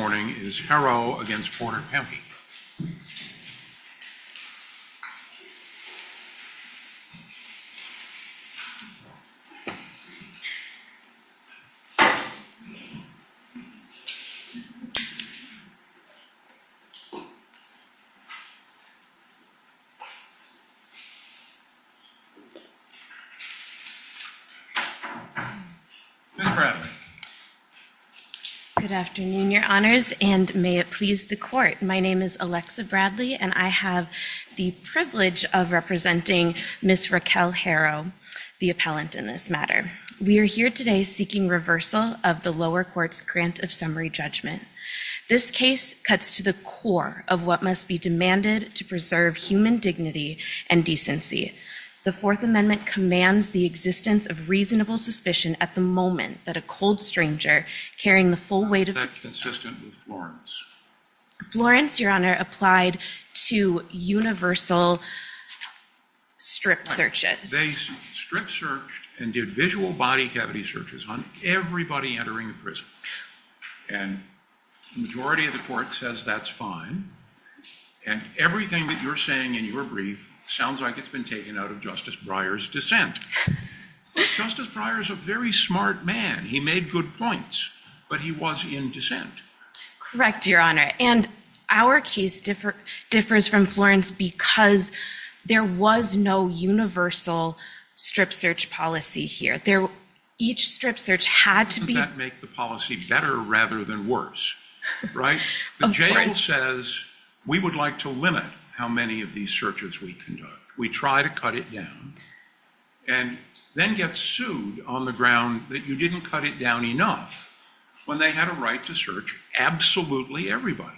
Haro v. Porter County, Indiana Please and may it please the court. My name is Alexa Bradley and I have the privilege of representing Ms. Raquel Haro, the appellant in this matter. We are here today seeking reversal of the lower court's grant of summary judgment. This case cuts to the core of what must be demanded to preserve human dignity and decency. The Fourth Amendment commands the existence of reasonable suspicion at the moment that a cold stranger carrying the full weight of the system. Is that consistent with Florence? Florence, Your Honor, applied to universal strip searches. They strip searched and did visual body cavity searches on everybody entering the prison. And the majority of the court says that's fine. And everything that you're saying in your brief sounds like it's been taken out of Justice Breyer's dissent. Justice Breyer is a very smart man. He made good points. But he was in dissent. Correct, Your Honor. And our case differs from Florence because there was no universal strip search policy here. Each strip search had to be Doesn't that make the policy better rather than worse? Right? Of course. The jail says we would like to limit how many of these searches we conduct. We try to cut it down and then get sued on the ground that you didn't cut it down enough when they had a right to search absolutely everybody.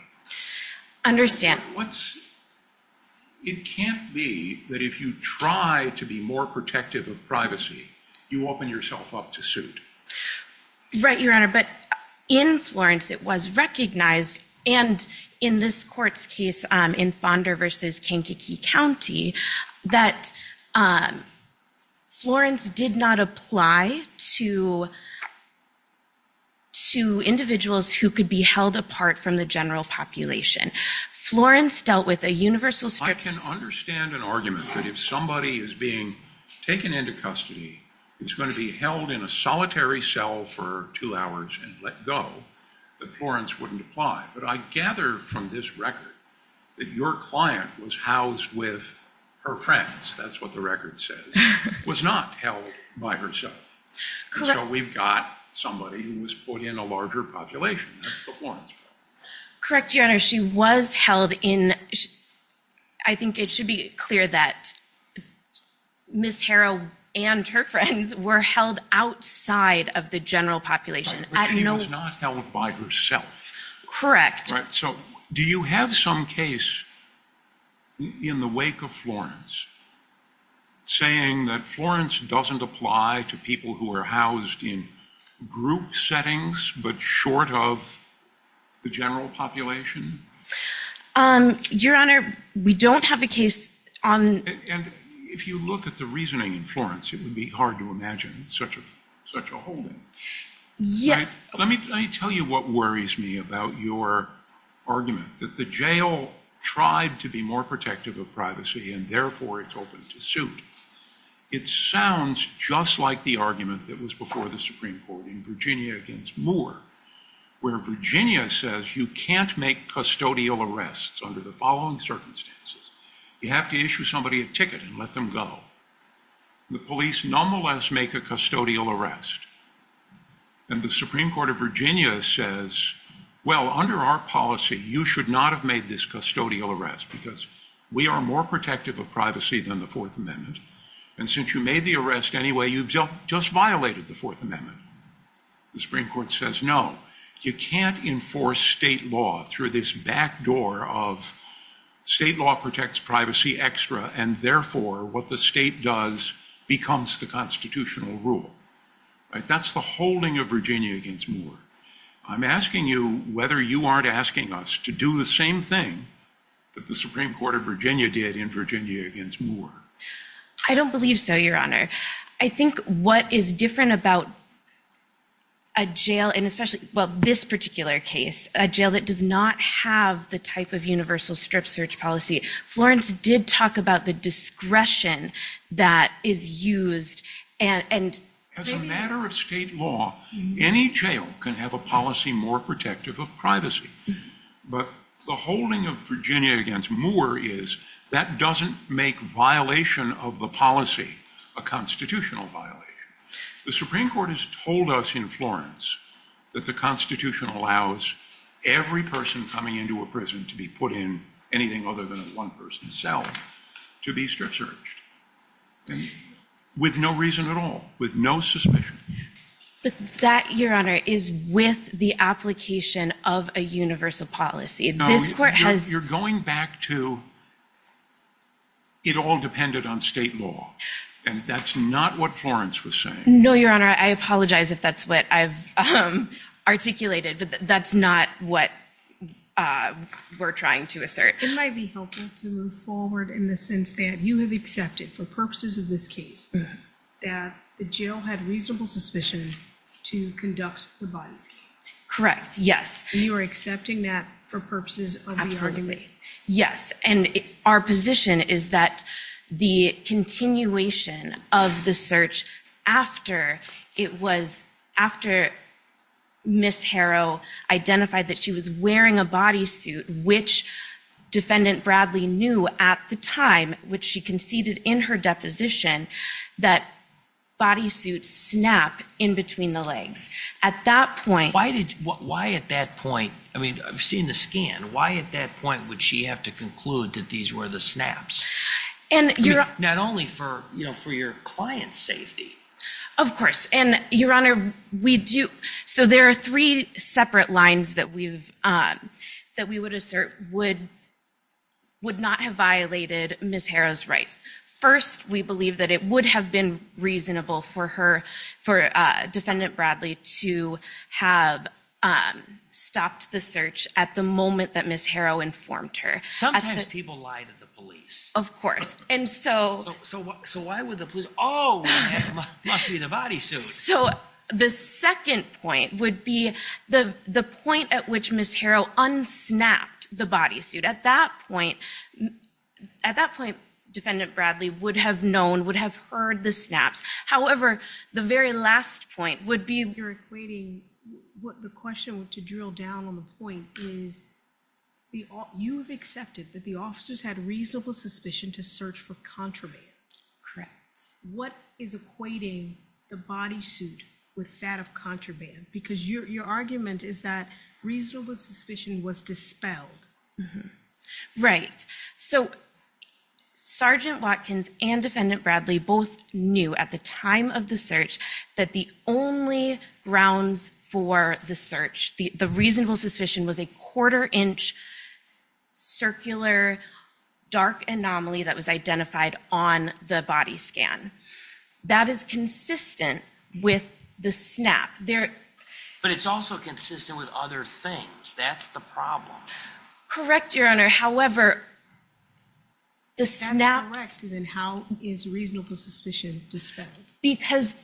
It can't be that if you try to be more protective of privacy, you open yourself up to suit. Right, Your Honor. But in Florence, it was recognized and in this court's case in Fonda versus Kankakee County, that Florence did not apply to individuals who could be held apart from the general population. Florence dealt with a universal strip search. I can understand an argument that if somebody is being taken into custody, is going to be held in a solitary cell for two hours and let go, that Florence wouldn't apply. But I gather from this record that your client was housed with her friends, that's what the record says, was not held by herself. Correct. So we've got somebody who was put in a larger population. That's the Florence problem. Correct, Your Honor. She was held in, I think it should be clear that Ms. Harrow and her friends were held outside of the general population. But she was not held by herself. Correct. So do you have some case in the wake of Florence saying that Florence doesn't apply to people who are housed in group settings but short of the general population? Your Honor, we don't have a case on... And if you look at the reasoning in Florence, it would be hard to imagine such a holding. Yes. Let me tell you what worries me about your argument, that the jail tried to be more protective of privacy and therefore it's open to suit. It sounds just like the argument that was before the Supreme Court in Virginia against Moore, where Virginia says you can't make custodial arrests under the following circumstances. You have to issue somebody a ticket and let them go. The police nonetheless make a custodial arrest. And the Supreme Court of Virginia says, well, under our policy, you should not have made this custodial arrest because we are more protective of privacy than the Fourth Amendment. And since you made the arrest anyway, you've just violated the Fourth Amendment. The Supreme Court says, no, you can't enforce state law through this back door of state law protects privacy extra and therefore what the state does becomes the constitutional rule. That's the holding of Virginia against Moore. I'm asking you whether you aren't asking us to do the same thing that the Supreme Court of Virginia did in Virginia against Moore. I don't believe so, Your Honor. I think what is different about a jail, and especially well, this particular case, a jail that does not have the type of universal strip search policy. Florence did talk about the discretion that is used. As a matter of state law, any jail can have a policy more protective of privacy. But the holding of Virginia against Moore is that doesn't make violation of the policy a constitutional violation. The Supreme Court has told us in Florence that the Constitution allows every person coming into a prison to be put in anything other than one person's cell to be strip searched with no reason at all, with no suspicion. But that, Your Honor, is with the application of a universal policy. This court has... You're going back to it all depended on state law, and that's not what Florence was saying. No, Your Honor. I apologize if that's what I've articulated, but that's not what we're trying to assert. It might be helpful to move forward in the sense that you have accepted for purposes of this case that the jail had reasonable suspicion to conduct the bodies case. Correct, yes. You are accepting that for purposes of the argument? Yes. And our position is that the continuation of the search after it was, after Ms. Harrow identified that she was wearing a bodysuit, which Defendant Bradley knew at the time, which she conceded in her deposition, that bodysuits snap in between the legs. At that point... Why at that point... I mean, I've seen the scan. Why at that point would she have to conclude that these were the snaps? Not only for your client's safety. Of course. And, Your Honor, we do... So there are three separate lines that we would assert would not have violated Ms. Harrow's rights. First, we believe that it would have been reasonable for her, for Defendant Bradley to have stopped the search at the moment that Ms. Harrow informed her. Sometimes people lie to the police. Of course. And so... So why would the police... Oh, it must be the bodysuit. So the second point would be the point at which Ms. Harrow unsnapped the bodysuit. At that point, Defendant Bradley would have known, would have heard the snaps. However, the very last point would be... You're equating... The question, to drill down on the point, is you've accepted that the officers had reasonable suspicion to search for contraband. Correct. What is equating the bodysuit with that of contraband? Because your argument is that reasonable suspicion was dispelled. Right. So, Sergeant Watkins and Defendant Bradley both knew at the time of the search that the only grounds for the search, the reasonable suspicion, was a quarter-inch circular dark anomaly that was identified on the body scan. That is consistent with the snap. But it's also consistent with other things. That's the problem. Correct, Your Honor. However, the snaps... If that's correct, then how is reasonable suspicion dispelled? Because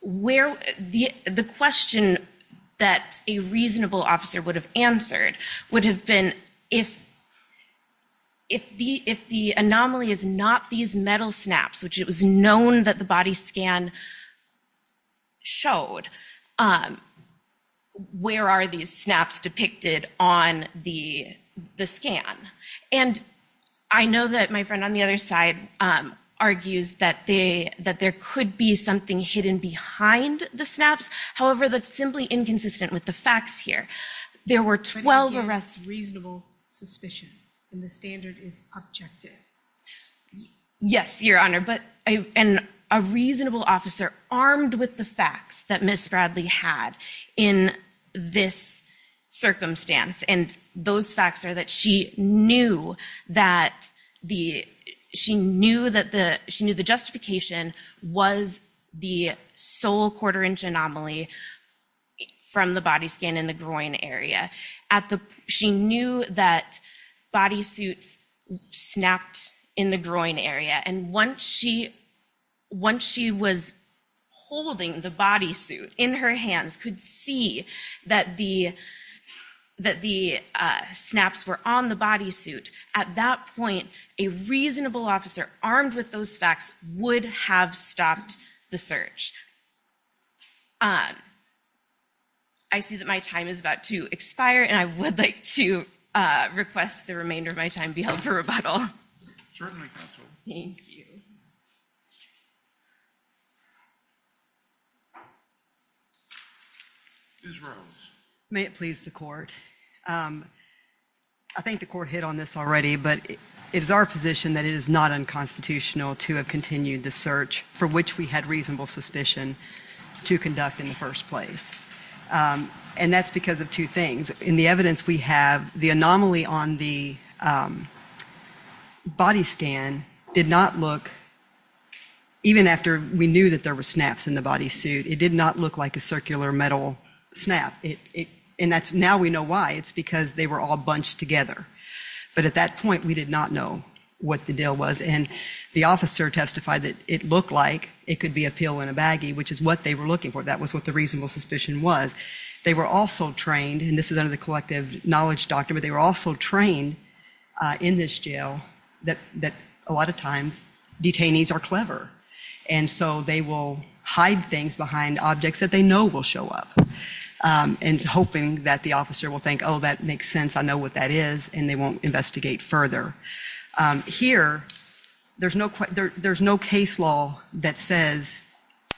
where... The question that a reasonable officer would have answered would have been if the anomaly is not these metal snaps, which it was known that the body scan showed, where are these snaps depicted on the scan? And I know that my friend on the other side argues that there could be something hidden behind the snaps. However, that's simply inconsistent with the facts here. There were 12 arrests... But again, reasonable suspicion, and the standard is objective. Yes, Your Honor. And a reasonable officer armed with the facts that Ms. Bradley had in this circumstance, and those facts are that she knew that the justification was the sole quarter-inch anomaly from the body scan in the groin area. She knew that body suits snapped in the groin area. And once she was holding the body suit in her hands, could see that the snaps were on the body suit, at that point, a reasonable officer armed with those facts would have stopped the search. I see that my time is about to expire, and I would like to request the remainder of my time to be held for rebuttal. Certainly, Counsel. Thank you. Ms. Rose. May it please the Court. I think the Court hit on this already, but it is our position that it is not unconstitutional to have continued the search for which we had reasonable suspicion to conduct in the first place. And that's because of two things. In the evidence we have, the anomaly on the body scan did not look, even after we knew that there were snaps in the body suit, it did not look like a circular metal snap. And now we know why. It's because they were all bunched together. But at that point, we did not know what the deal was. And the officer testified that it looked like it could be a pill in a baggie, which is what they were looking for. That was what the reasonable suspicion was. They were also trained, and this is under the Collective Knowledge Doctrine, but they were also trained in this jail that a lot of times, detainees are clever. And so they will hide things behind objects that they know will show up, and hoping that the officer will think, oh, that makes sense, I know what that is, and they won't investigate further. Here, there's no case law that says,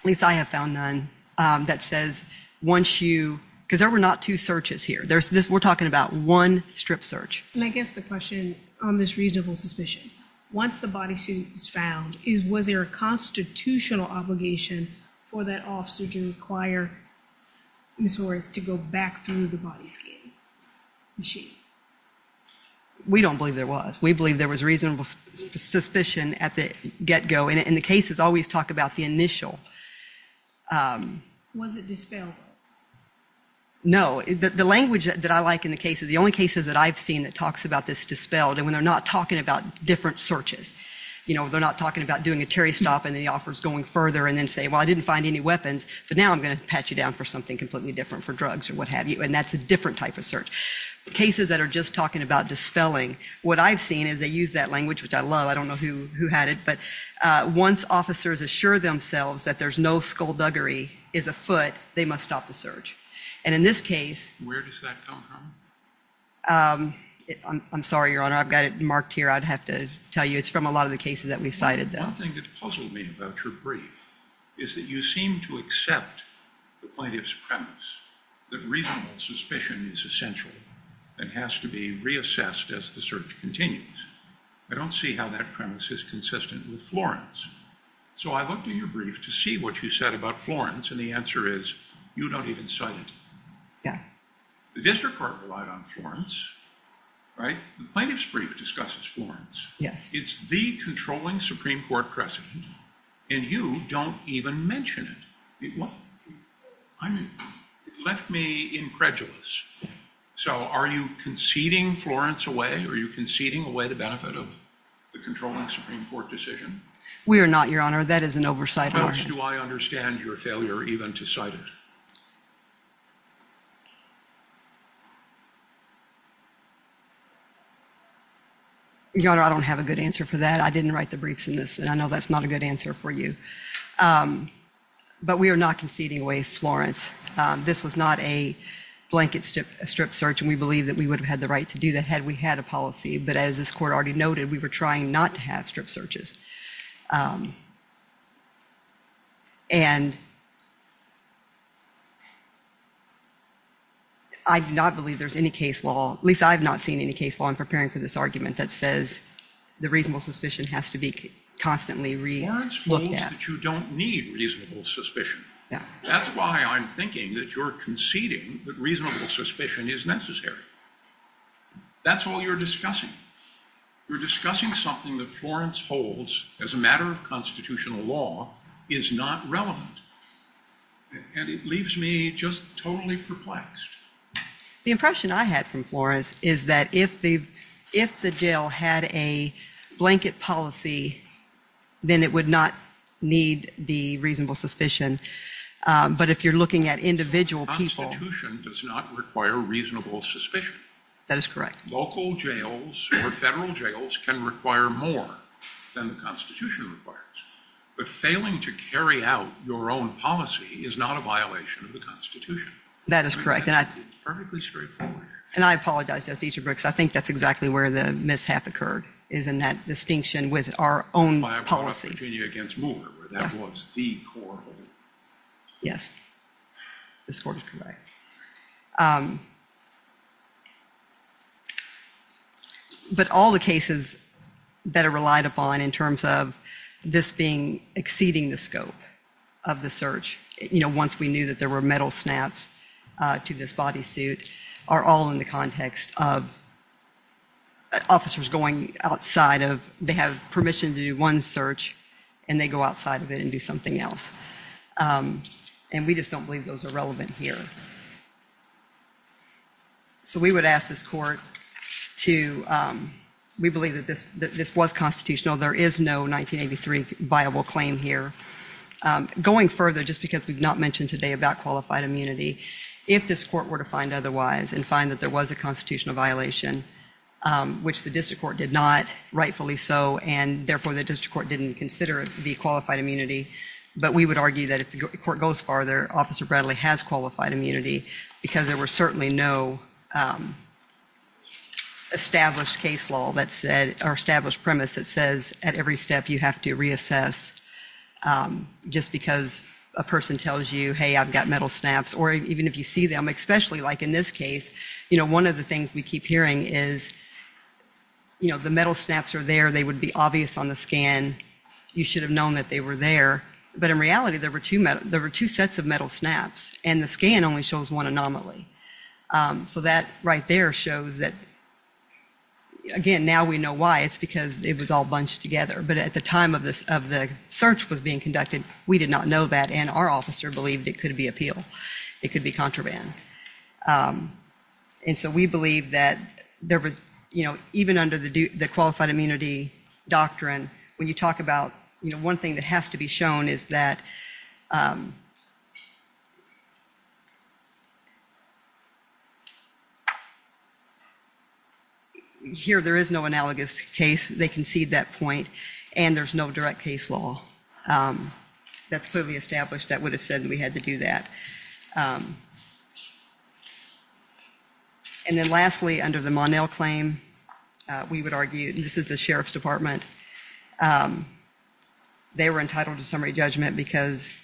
at least I have found none, that says once you, because there were not two searches here. We're talking about one strip search. And I guess the question on this reasonable suspicion, once the body suit was found, was there a constitutional obligation for that officer to require Ms. Horace to go back through the body scan machine? We don't believe there was. We believe there was reasonable suspicion at the get-go, and the cases always talk about the initial. Was it dispelled? No. The language that I like in the case is, the only cases that I've seen that talks about this dispelled, and when they're not talking about different searches, you know, they're not talking about doing a Terry stop, and the officer's going further, and then say, well, I didn't find any weapons, but now I'm going to pat you down for something completely different for drugs, or what have you, and that's a different type of search. Cases that are just talking about dispelling, what I've seen is they use that language, which I love, I don't know who had it, but once officers assure themselves that there's no skullduggery is afoot, they must stop the search. And in this case... Where does that come from? I'm sorry, Your Honor, I've got it marked here, I'd have to tell you, it's from a lot of the cases that we've cited. One thing that puzzled me about your brief is that you seem to accept the plaintiff's premise that reasonable suspicion is essential and has to be reassessed as the search continues. I don't see how that premise is consistent with Florence. So I looked at your brief to see what you said about Florence, and the answer is, you don't even cite it. The district court relied on Florence, right? The plaintiff's brief discusses Florence. It's the controlling Supreme Court precedent, and you don't even mention it. It left me incredulous. So are you conceding Florence away, or are you conceding away the benefit of the controlling Supreme Court decision? We are not, Your Honor. That is an oversight argument. Plus, do I understand your failure even to cite it? Your Honor, I don't have a good answer for that. I didn't write the briefs in this, and I know that's not a good answer for you. But we are not conceding away Florence. This was not a blanket strip search, and we believe that we would have had the right to do that had we had a policy. But as this court already noted, we were trying not to have strip searches. And I do not believe there's any case law, at least I have not seen any case law in preparing for this argument that says the reasonable suspicion has to be constantly relooked at. Florence means that you don't need reasonable suspicion. That's why I'm thinking that you're conceding that reasonable suspicion is necessary. That's all you're discussing. You're discussing something that Florence holds as a matter of constitutional law is not relevant. And it leaves me just totally perplexed. The impression I had from Florence is that if the jail had a blanket policy, then it does not need the reasonable suspicion. But if you're looking at individual people... The Constitution does not require reasonable suspicion. That is correct. Local jails or federal jails can require more than the Constitution requires. But failing to carry out your own policy is not a violation of the Constitution. That is correct. And I apologize, Justice Dietrich, because I think that's exactly where the mishap occurred is in that distinction with our own policy. Well, I brought up Virginia v. Moore, where that was the core hold. Yes. This court is correct. But all the cases that are relied upon in terms of this being exceeding the scope of the search, you know, once we knew that there were metal snaps to this bodysuit, are all in the context of officers going outside of... They have permission to do one search, and they go outside of it and do something else. And we just don't believe those are relevant here. So we would ask this court to... We believe that this was constitutional. There is no 1983 viable claim here. Going further, just because we've not mentioned today about qualified immunity, if this court were to find otherwise and find that there was a constitutional violation, which the district court did not, rightfully so, and therefore the district court didn't consider it to be qualified immunity, but we would argue that if the court goes farther, Officer Bradley has qualified immunity, because there was certainly no established case law that said... Or established premise that says at every step you have to reassess just because a person tells you, hey, I've got metal snaps. Or even if you see them, especially like in this case, you know, one of the things we keep hearing is, you know, the metal snaps are there. They would be obvious on the scan. You should have known that they were there. But in reality, there were two sets of metal snaps, and the scan only shows one anomaly. So that right there shows that, again, now we know why. It's because it was all bunched together. But at the time of the search was being conducted, we did not know that, and our officer believed it could be appeal. It could be contraband. And so we believe that there was, you know, even under the qualified immunity doctrine, when you talk about, you know, one thing that has to be shown is that... Here there is no analogous case. They concede that point, and there's no direct case law that's clearly established that would have said we had to do that. And then lastly, under the Monell claim, we would argue, and this is the Sheriff's Department, they were entitled to summary judgment because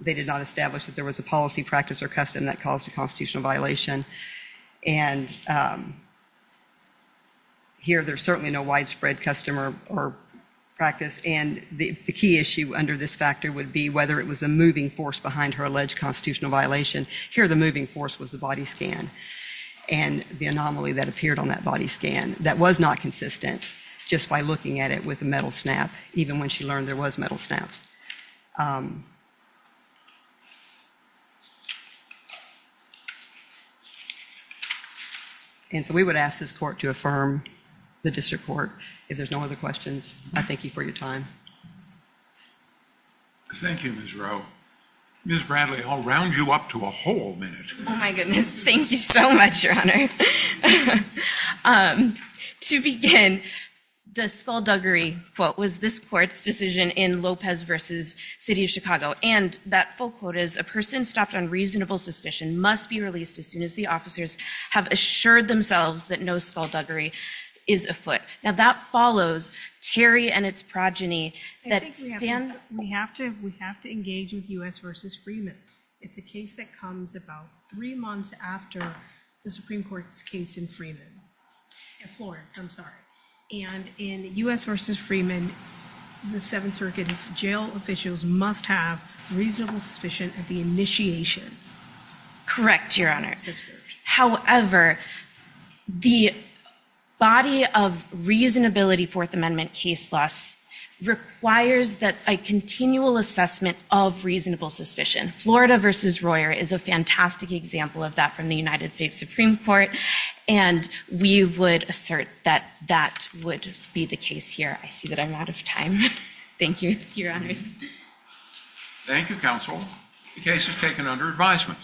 they did not establish that there was a policy practice or custom that caused a constitutional violation. And here there's certainly no widespread custom or practice, and the key issue under this factor would be whether it was a moving force behind her alleged constitutional violation. Here the moving force was the body scan, and the anomaly that appeared on that body scan that was not consistent, just by looking at it with a metal snap, even when she learned there was metal snaps. And so we would ask this court to affirm the district court. If there's no other questions, I thank you for your time. Thank you, Ms. Rowe. Ms. Bradley, I'll round you up to a whole minute. Oh my goodness, thank you so much, Your Honor. To begin, the skullduggery quote was this court's decision in Lopez v. City of Chicago, and that full quote is, a person stopped on reasonable suspicion must be released as soon as the officers have assured themselves that no skullduggery is afoot. Now that follows Terry and its progeny. I think we have to engage with U.S. v. Freeman. It's a case that comes about three months after the Supreme Court's case in Freeman. In Florence, I'm sorry. And in U.S. v. Freeman, the Seventh Circuit's jail officials must have reasonable suspicion at the initiation. Correct, Your Honor. However, the body of reasonability Fourth Amendment case laws requires that a continual assessment of reasonable suspicion. Florida v. Royer is a fantastic example of that from the United States Supreme Court, and we would assert that that would be the case here. I see that I'm out of time. Thank you, Your Honors. Thank you, Counsel. The case is taken under advisement.